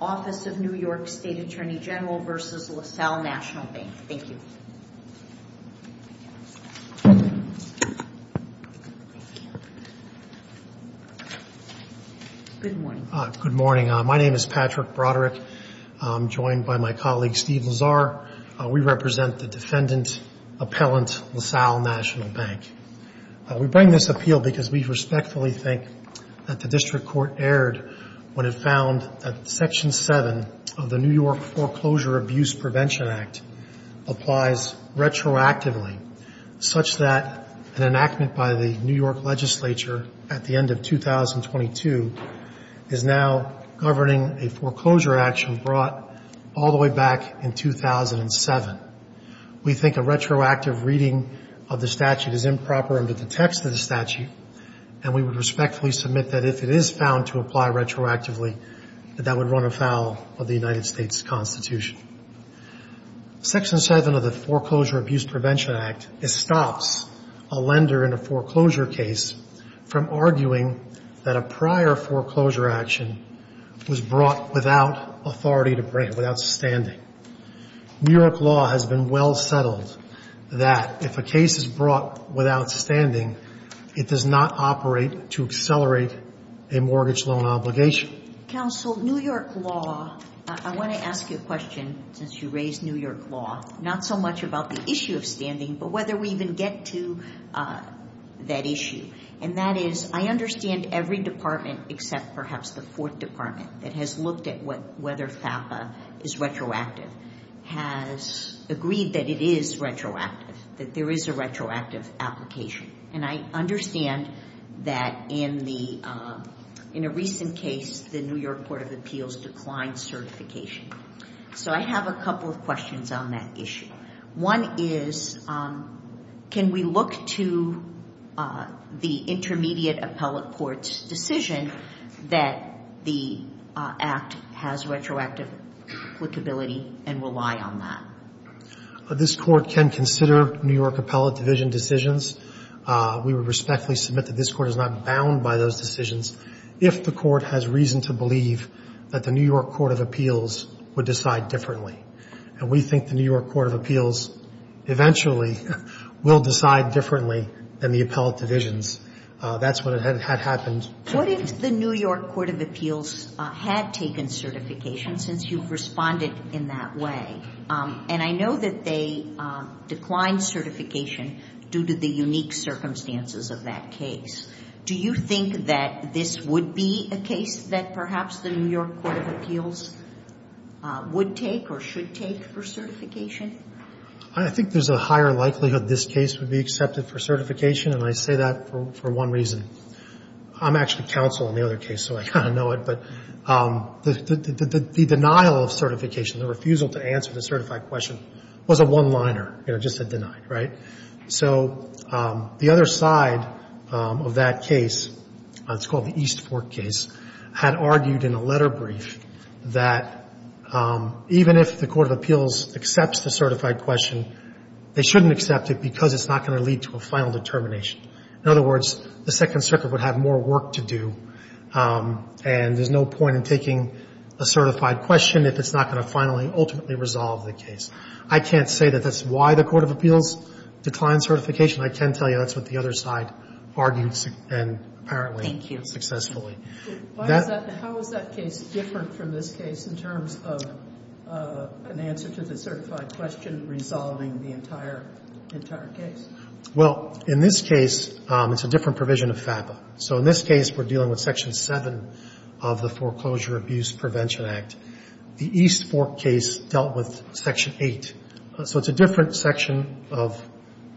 Office of New York State Attorney General v. LaSalle National Bank. Thank you. Good morning. Good morning. My name is Patrick Broderick. I'm joined by my colleague Steve Lazar. We represent the Defendant Appellant LaSalle National Bank. We bring this appeal because we respectfully think that the District Court erred when it found that Section 7 of the New York Foreclosure Abuse Prevention Act applies retroactively such that an enactment by the New York Legislature at the end of 2022 is now governing a foreclosure action brought all the way back in 2007. We think a retroactive reading of the statute is improper under the text of the statute, and we would respectfully submit that if it is found to apply retroactively, that that would run afoul of the United States Constitution. Section 7 of the Foreclosure Abuse Prevention Act stops a lender in a foreclosure case from arguing that a prior foreclosure action was brought without authority to bring it, without standing. New York law has been well settled that if a case is brought without standing, it does not operate to accelerate a mortgage loan obligation. Counsel, New York law, I want to ask you a question since you raised New York law, not so much about the issue of standing, but whether we even get to that issue. And that is, I understand every department except perhaps the Fourth Department that has looked at whether FAPA is retroactive has agreed that it is retroactive, that there is a retroactive application. And I understand that in the, in a recent case, the New York Court of Appeals declined certification. So I have a couple of questions on that issue. One is, can we look to the intermediate appellate court's decision that the Act has retroactive applicability and rely on that? This Court can consider New York appellate division decisions. We would respectfully submit that this Court is not bound by those decisions if the Court has reason to believe that the New York Court of Appeals would decide differently. And we think the New York Court of Appeals eventually will decide differently than the appellate divisions. That's what had happened. What if the New York Court of Appeals had taken certification since you've responded in that way? And I know that they declined certification due to the unique circumstances of that case. Do you think that this would be a case that perhaps the New York Court of Appeals would take or should take for certification? I think there's a higher likelihood this case would be accepted for certification, and I say that for one reason. I'm actually counsel in the other case, so I kind of know it. But the denial of certification, the refusal to answer the certified question was a one-liner, you know, just a deny, right? So the other side of that case, it's called the East Fork case, had argued in a letter brief that even if the Court of Appeals accepts the certified question, they shouldn't accept it because it's not going to lead to a final determination. In other words, the Second Circuit would have more work to do, and there's no point in taking a certified question if it's not going to finally, ultimately resolve the case. I can't say that that's why the Court of Appeals declined certification. I can tell you that's what the other side argued and apparently successfully. How is that case different from this case in terms of an answer to the certified question resolving the entire case? Well, in this case, it's a different provision of FAPA. So in this case, we're dealing with Section 7 of the Foreclosure Abuse Prevention Act. The East Fork case dealt with Section 8, so it's a different section of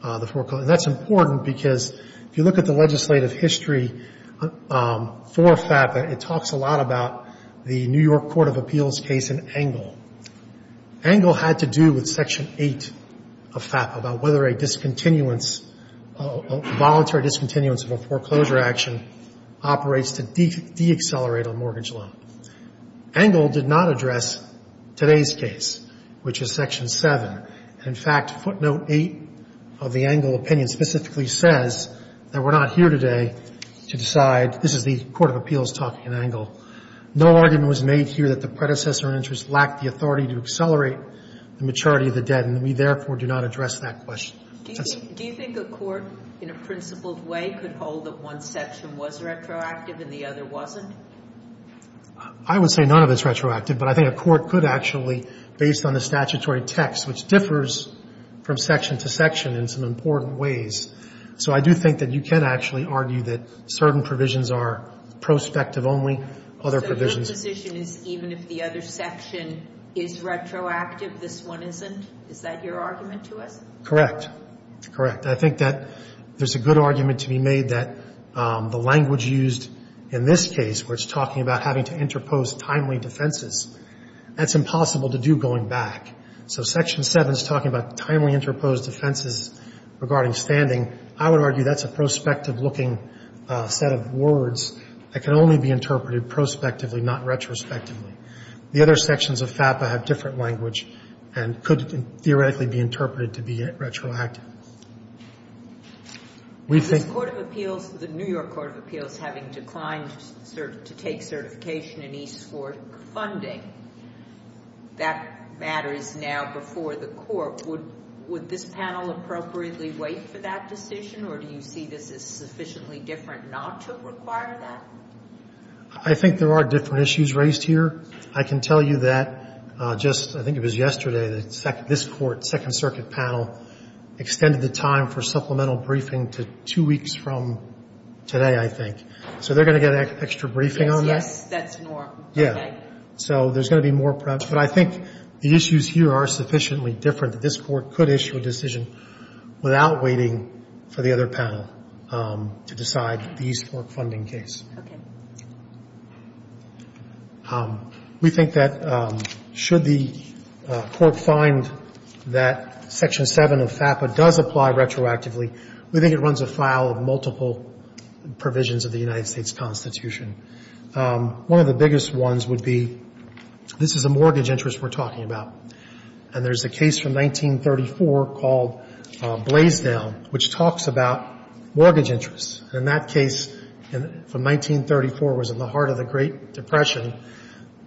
the foreclosure. That's important because if you look at the legislative history for FAPA, it talks a lot about the New York Court of Appeals case in Engle. Engle had to do with Section 8 of FAPA about whether a discontinuance, a voluntary discontinuance of a foreclosure action operates to deaccelerate a mortgage loan. Engle did not address today's case, which is Section 7. In fact, footnote 8 of the Engle opinion specifically says that we're not here today to decide. This is the Court of Appeals talking in Engle. No argument was made here that the predecessor in interest lacked the authority to accelerate the maturity of the debt, and we therefore do not address that question. Do you think a court in a principled way could hold that one section was retroactive and the other wasn't? I would say none of it's retroactive, but I think a court could actually, based on the statutory text, which differs from section to section in some important ways. So I do think that you can actually argue that certain provisions are prospective only, other provisions. So your position is even if the other section is retroactive, this one isn't? Is that your argument to us? Correct. Correct. I think that there's a good argument to be made that the language used in this case, where it's talking about having to interpose timely defenses, that's impossible to do going back. So section 7 is talking about timely interposed defenses regarding standing. I would argue that's a prospective-looking set of words that can only be interpreted prospectively, not retrospectively. The other sections of FAPA have different language and could theoretically be interpreted to be retroactive. Is this Court of Appeals, the New York Court of Appeals, having declined to take certification in East Fork funding? That matter is now before the Court. Would this panel appropriately wait for that decision, or do you see this as sufficiently different not to require that? I think there are different issues raised here. I can tell you that just, I think it was yesterday, that this Court, Second Circuit panel, extended the time for supplemental briefing to two weeks from today, I think. So they're going to get extra briefing on that? Yes, that's normal. Okay. So there's going to be more prep, but I think the issues here are sufficiently different that this Court could issue a decision without waiting for the other panel to decide the East Fork funding case. Okay. We think that should the Court find that section 7 of FAPA does apply retroactively, we think it runs afoul of multiple provisions of the United States Constitution. One of the biggest ones would be, this is a mortgage interest we're talking about, and there's a case from 1934 called Blaisdell, which talks about mortgage interest. In that case, from 1934, it was in the heart of the Great Depression.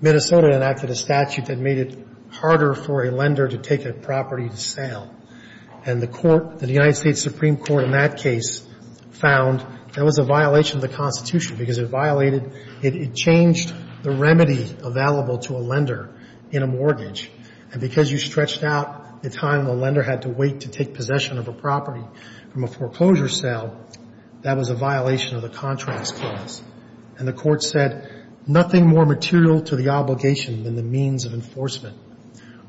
Minnesota enacted a statute that made it harder for a lender to take a property to sale, and the Court, the United States Supreme Court in that case, found that was a violation of the Constitution because it violated, it changed the remedy available to a lender in a mortgage. And because you stretched out the time the lender had to wait to take possession of a property from a foreclosure sale, that was a violation of the Contracts Clause. And the Court said, nothing more material to the obligation than the means of enforcement.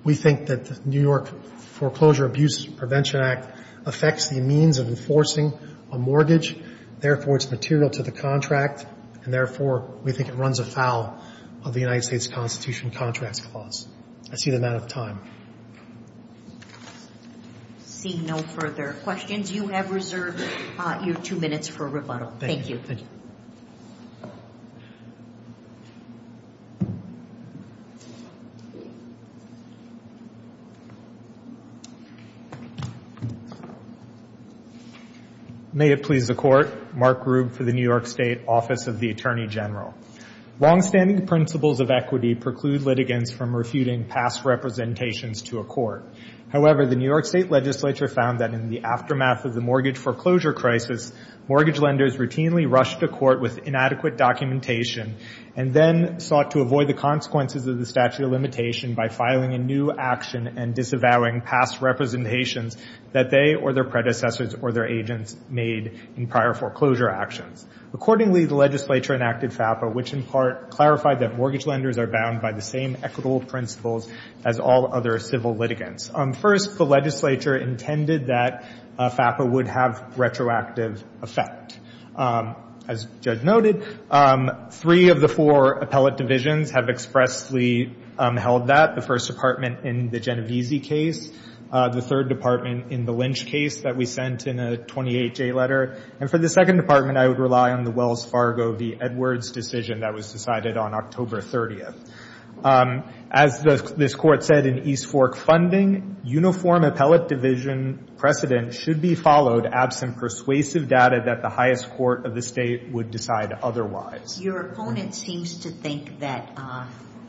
We think that the New York Foreclosure Abuse Prevention Act affects the means of enforcing a mortgage, therefore it's material to the contract, and therefore we think it runs afoul of the United States Constitution Contracts Clause. That's the amount of time. Seeing no further questions, you have reserved your two minutes for rebuttal. Thank you. May it please the Court. Mark Grubb for the New York State Office of the Attorney General. Longstanding principles of equity preclude litigants from refuting past representations to a court. However, the New York State Legislature found that in the aftermath of the mortgage foreclosure crisis, mortgage lenders routinely rushed to court with inadequate documentation and then sought to avoid the consequences of the statute of limitation by filing a new action and disavowing past representations that they or their predecessors or their agents made in prior foreclosure actions. Accordingly, the Legislature enacted FAPA, which in part clarified that mortgage lenders are bound by the same equitable principles as all other civil litigants. First, the Legislature intended that FAPA would have retroactive effect. As Judge noted, three of the four appellate divisions have expressly held that, the First Department in the Genovese case, the Third Department in the Lynch case that we sent in a 28-J letter, and for the Second Department, I would rely on the Wells Fargo v. Edwards decision that was decided on October 30th. As this Court said in East Fork Funding, uniform appellate division precedent should be followed absent persuasive data that the highest court of the state would decide otherwise. Your opponent seems to think that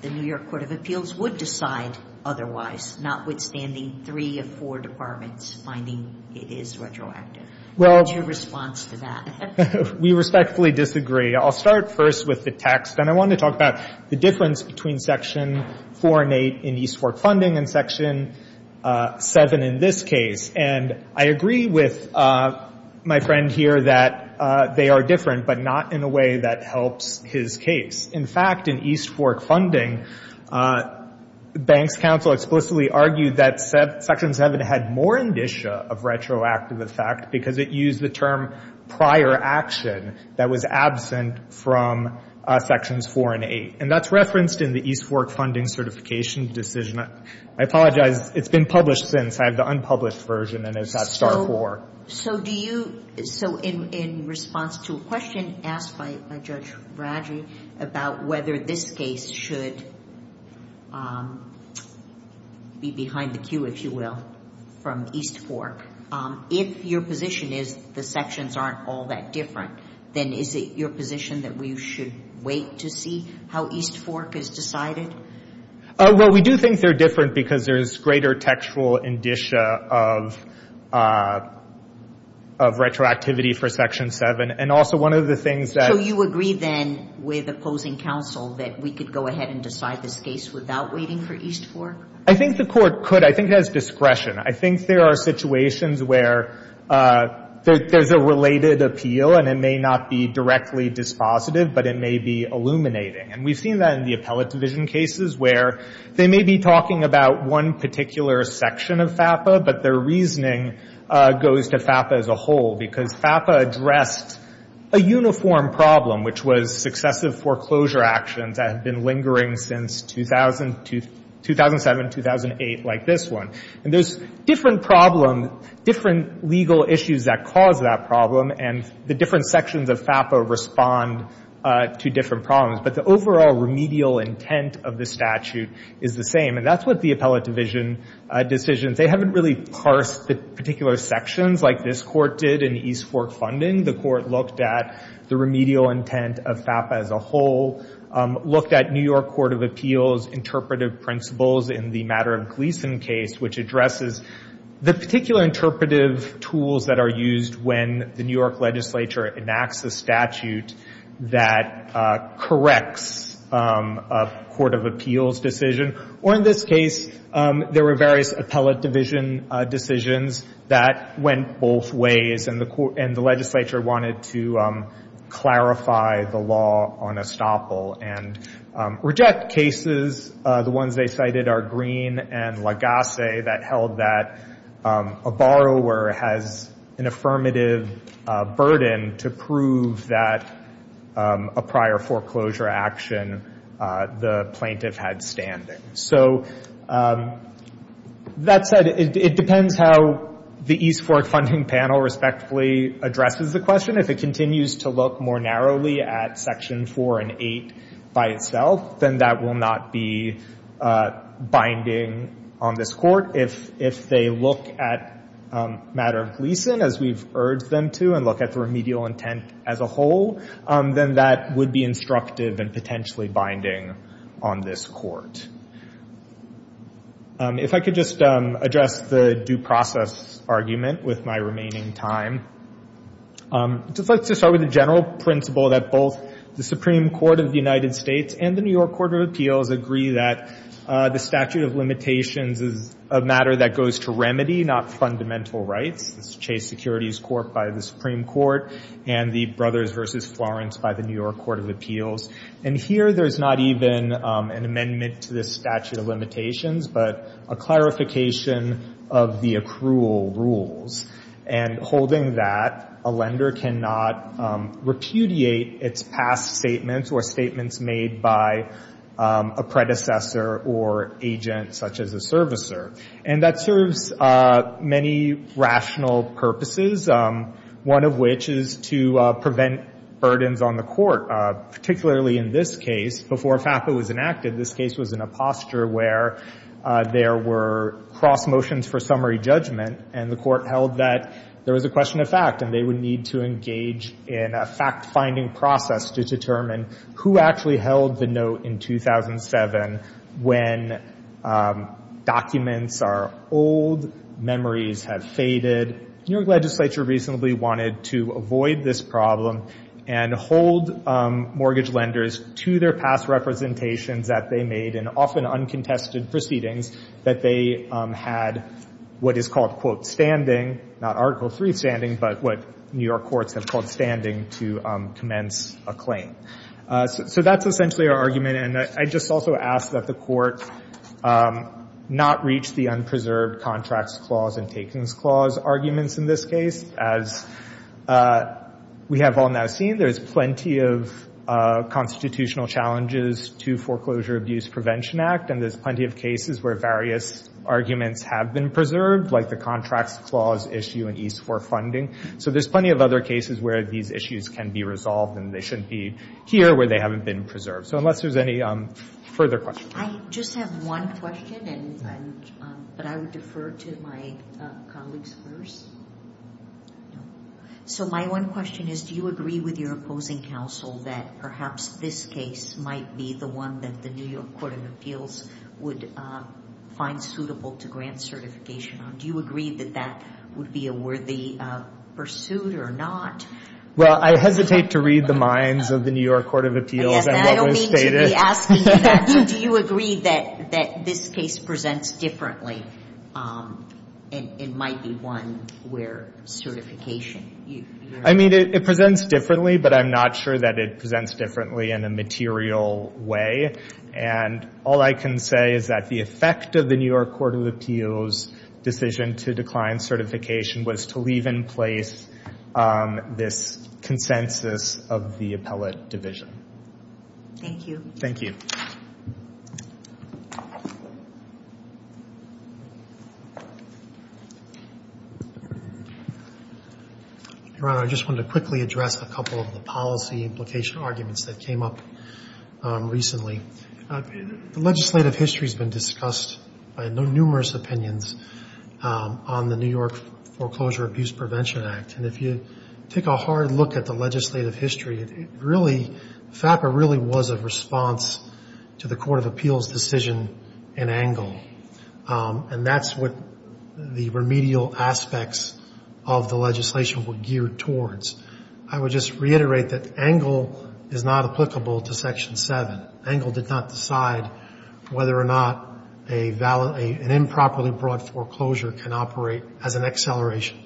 the New York Court of Appeals would decide otherwise, notwithstanding three of four departments finding it is retroactive. What is your response to that? We respectfully disagree. I'll start first with the text. And I want to talk about the difference between Section 4 and 8 in East Fork Funding and Section 7 in this case. And I agree with my friend here that they are different, but not in a way that helps his case. In fact, in East Fork Funding, banks counsel explicitly argued that Section 7 had more indicia of retroactive effect because it used the term prior action that was absent from Sections 4 and 8. And that's referenced in the East Fork Funding certification decision. I apologize. It's been published since. I have the unpublished version, and it's at Star 4. So do you – so in response to a question asked by Judge Bradley about whether this case should be behind the queue, if you will, from East Fork, if your position is the sections aren't all that different, then is it your position that we should wait to see how East Fork is decided? Well, we do think they're different because there is greater textual indicia of retroactivity for Section 7. And also one of the things that – Do you agree, then, with opposing counsel that we could go ahead and decide this case without waiting for East Fork? I think the Court could. I think it has discretion. I think there are situations where there's a related appeal, and it may not be directly dispositive, but it may be illuminating. And we've seen that in the appellate division cases where they may be talking about one particular section of FAPA, but their reasoning goes to FAPA as a whole because FAPA addressed a uniform problem, which was successive foreclosure actions that have been lingering since 2007, 2008, like this one. And there's different problem – different legal issues that cause that problem, and the different sections of FAPA respond to different problems. But the overall remedial intent of the statute is the same. And that's what the appellate division decisions – they basically parse the particular sections like this Court did in East Fork funding. The Court looked at the remedial intent of FAPA as a whole, looked at New York Court of Appeals interpretive principles in the Matter of Gleeson case, which addresses the particular interpretive tools that are used when the New York legislature enacts a statute that corrects a court of appeals decision. Or in this case, there were various appellate division decisions that went both ways, and the legislature wanted to clarify the law on estoppel and reject cases. The ones they cited are Green and Lagasse that held that a borrower has an affirmative burden to prove that a prior foreclosure action the plaintiff had standing. So that said, it depends how the East Fork funding panel respectively addresses the question. If it continues to look more narrowly at Section 4 and 8 by itself, then that will not be binding on this Court. If they look at Matter of Gleeson, as we've urged them to, and look at the remedial intent as a whole, then that would be instructive and potentially binding on this Court. If I could just address the due process argument with my remaining time, I'd just like to start with the general principle that both the Supreme Court of the United States and the New York Court of Appeals agree that the statute of limitations is a matter that goes to remedy, not fundamental rights. It's Chase Securities Court by the Supreme Court and the Brothers v. Florence by the New York Court of Appeals. And here there's not even an amendment to this statute of limitations, but a clarification of the accrual rules. And holding that, a lender cannot repudiate its past statements or statements made by a predecessor or agent such as a servicer. And that serves many rational purposes, one of which is to prevent burdens on the Court, particularly in this case. Before FAPA was enacted, this case was in a posture where there were cross motions for summary judgment and the Court held that there was a question of fact and they would need to engage in a fact-finding process to determine who actually held the note in 2007 when documents or old memories have faded. New York legislature recently wanted to avoid this problem and hold mortgage lenders to their past representations that they made in often uncontested proceedings that they had what is called, quote, standing, not Article III standing, but what New York courts have called standing to commence a claim. So that's essentially our argument. And I just also ask that the Court not reach the unpreserved contracts clause and takings clause arguments in this case. As we have all now seen, there's plenty of constitutional challenges to Foreclosure Abuse Prevention Act and there's plenty of cases where various arguments have been preserved, like the contracts clause issue in East 4 funding. So there's plenty of other cases where these issues can be resolved and they shouldn't be here where they haven't been preserved. So unless there's any further questions. I just have one question, but I would defer to my colleagues first. So my one question is, do you agree with your opposing counsel that perhaps this case might be the one that the New York Court of Appeals would find suitable to grant certification on? Do you agree that that would be a worthy pursuit or not? Well, I hesitate to read the minds of the New York Court of Appeals and what was stated. Do you agree that this case presents differently? It might be one where certification. I mean, it presents differently, but I'm not sure that it presents differently in a material way. And all I can say is that the effect of the New York Court of Appeals' decision to decline certification was to leave in place this consensus of the appellate division. Thank you. Thank you. Your Honor, I just wanted to quickly address a couple of the policy implication arguments that came up recently. The legislative history has been discussed by numerous opinions on the New York Foreclosure Abuse Prevention Act. And if you take a hard look at the legislative history, it really, FAPA really was a response to the Court of Appeals' decision in Engle. And that's what the remedial aspects of the legislation were geared towards. I would just reiterate that Engle is not applicable to Section 7. Engle did not decide whether or not an improperly brought foreclosure can operate as an acceleration.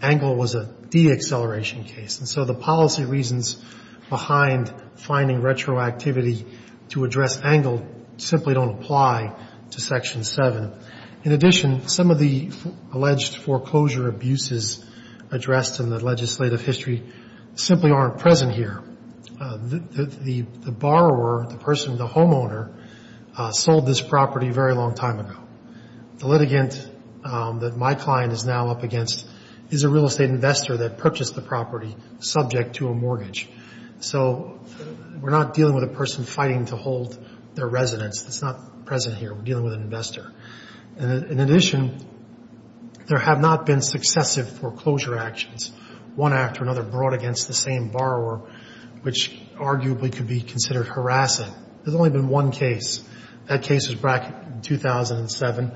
Engle was a deacceleration case. And so the policy reasons behind finding retroactivity to address Engle simply don't apply to Section 7. In addition, some of the alleged foreclosure abuses addressed in the legislative history simply aren't present here. The borrower, the person, the homeowner, sold this property a very long time ago. The litigant that my client is now up against is a real estate investor that purchased the property subject to a mortgage. So we're not dealing with a person fighting to hold their residence. That's not present here. We're dealing with an investor. And in addition, there have not been successive foreclosure actions, one after another brought against the same borrower, which arguably could be considered harassing. There's only been one case. That case was back in 2007.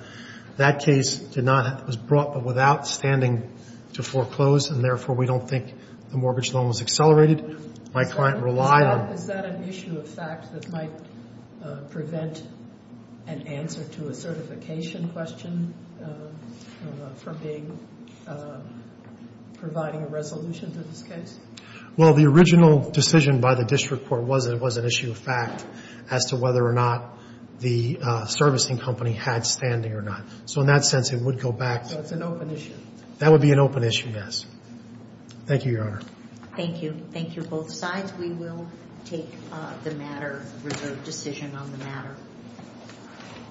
That case was brought but without standing to foreclose, and therefore we don't think the mortgage loan was accelerated. My client relied on it. Is that an issue of fact that might prevent an answer to a certification question from providing a resolution to this case? Well, the original decision by the district court was that it was an issue of fact as to whether or not the servicing company had standing or not. So in that sense, it would go back. So it's an open issue. That would be an open issue, yes. Thank you, Your Honor. Thank you. Thank you, both sides. We will take the matter, reserve decision on the matter.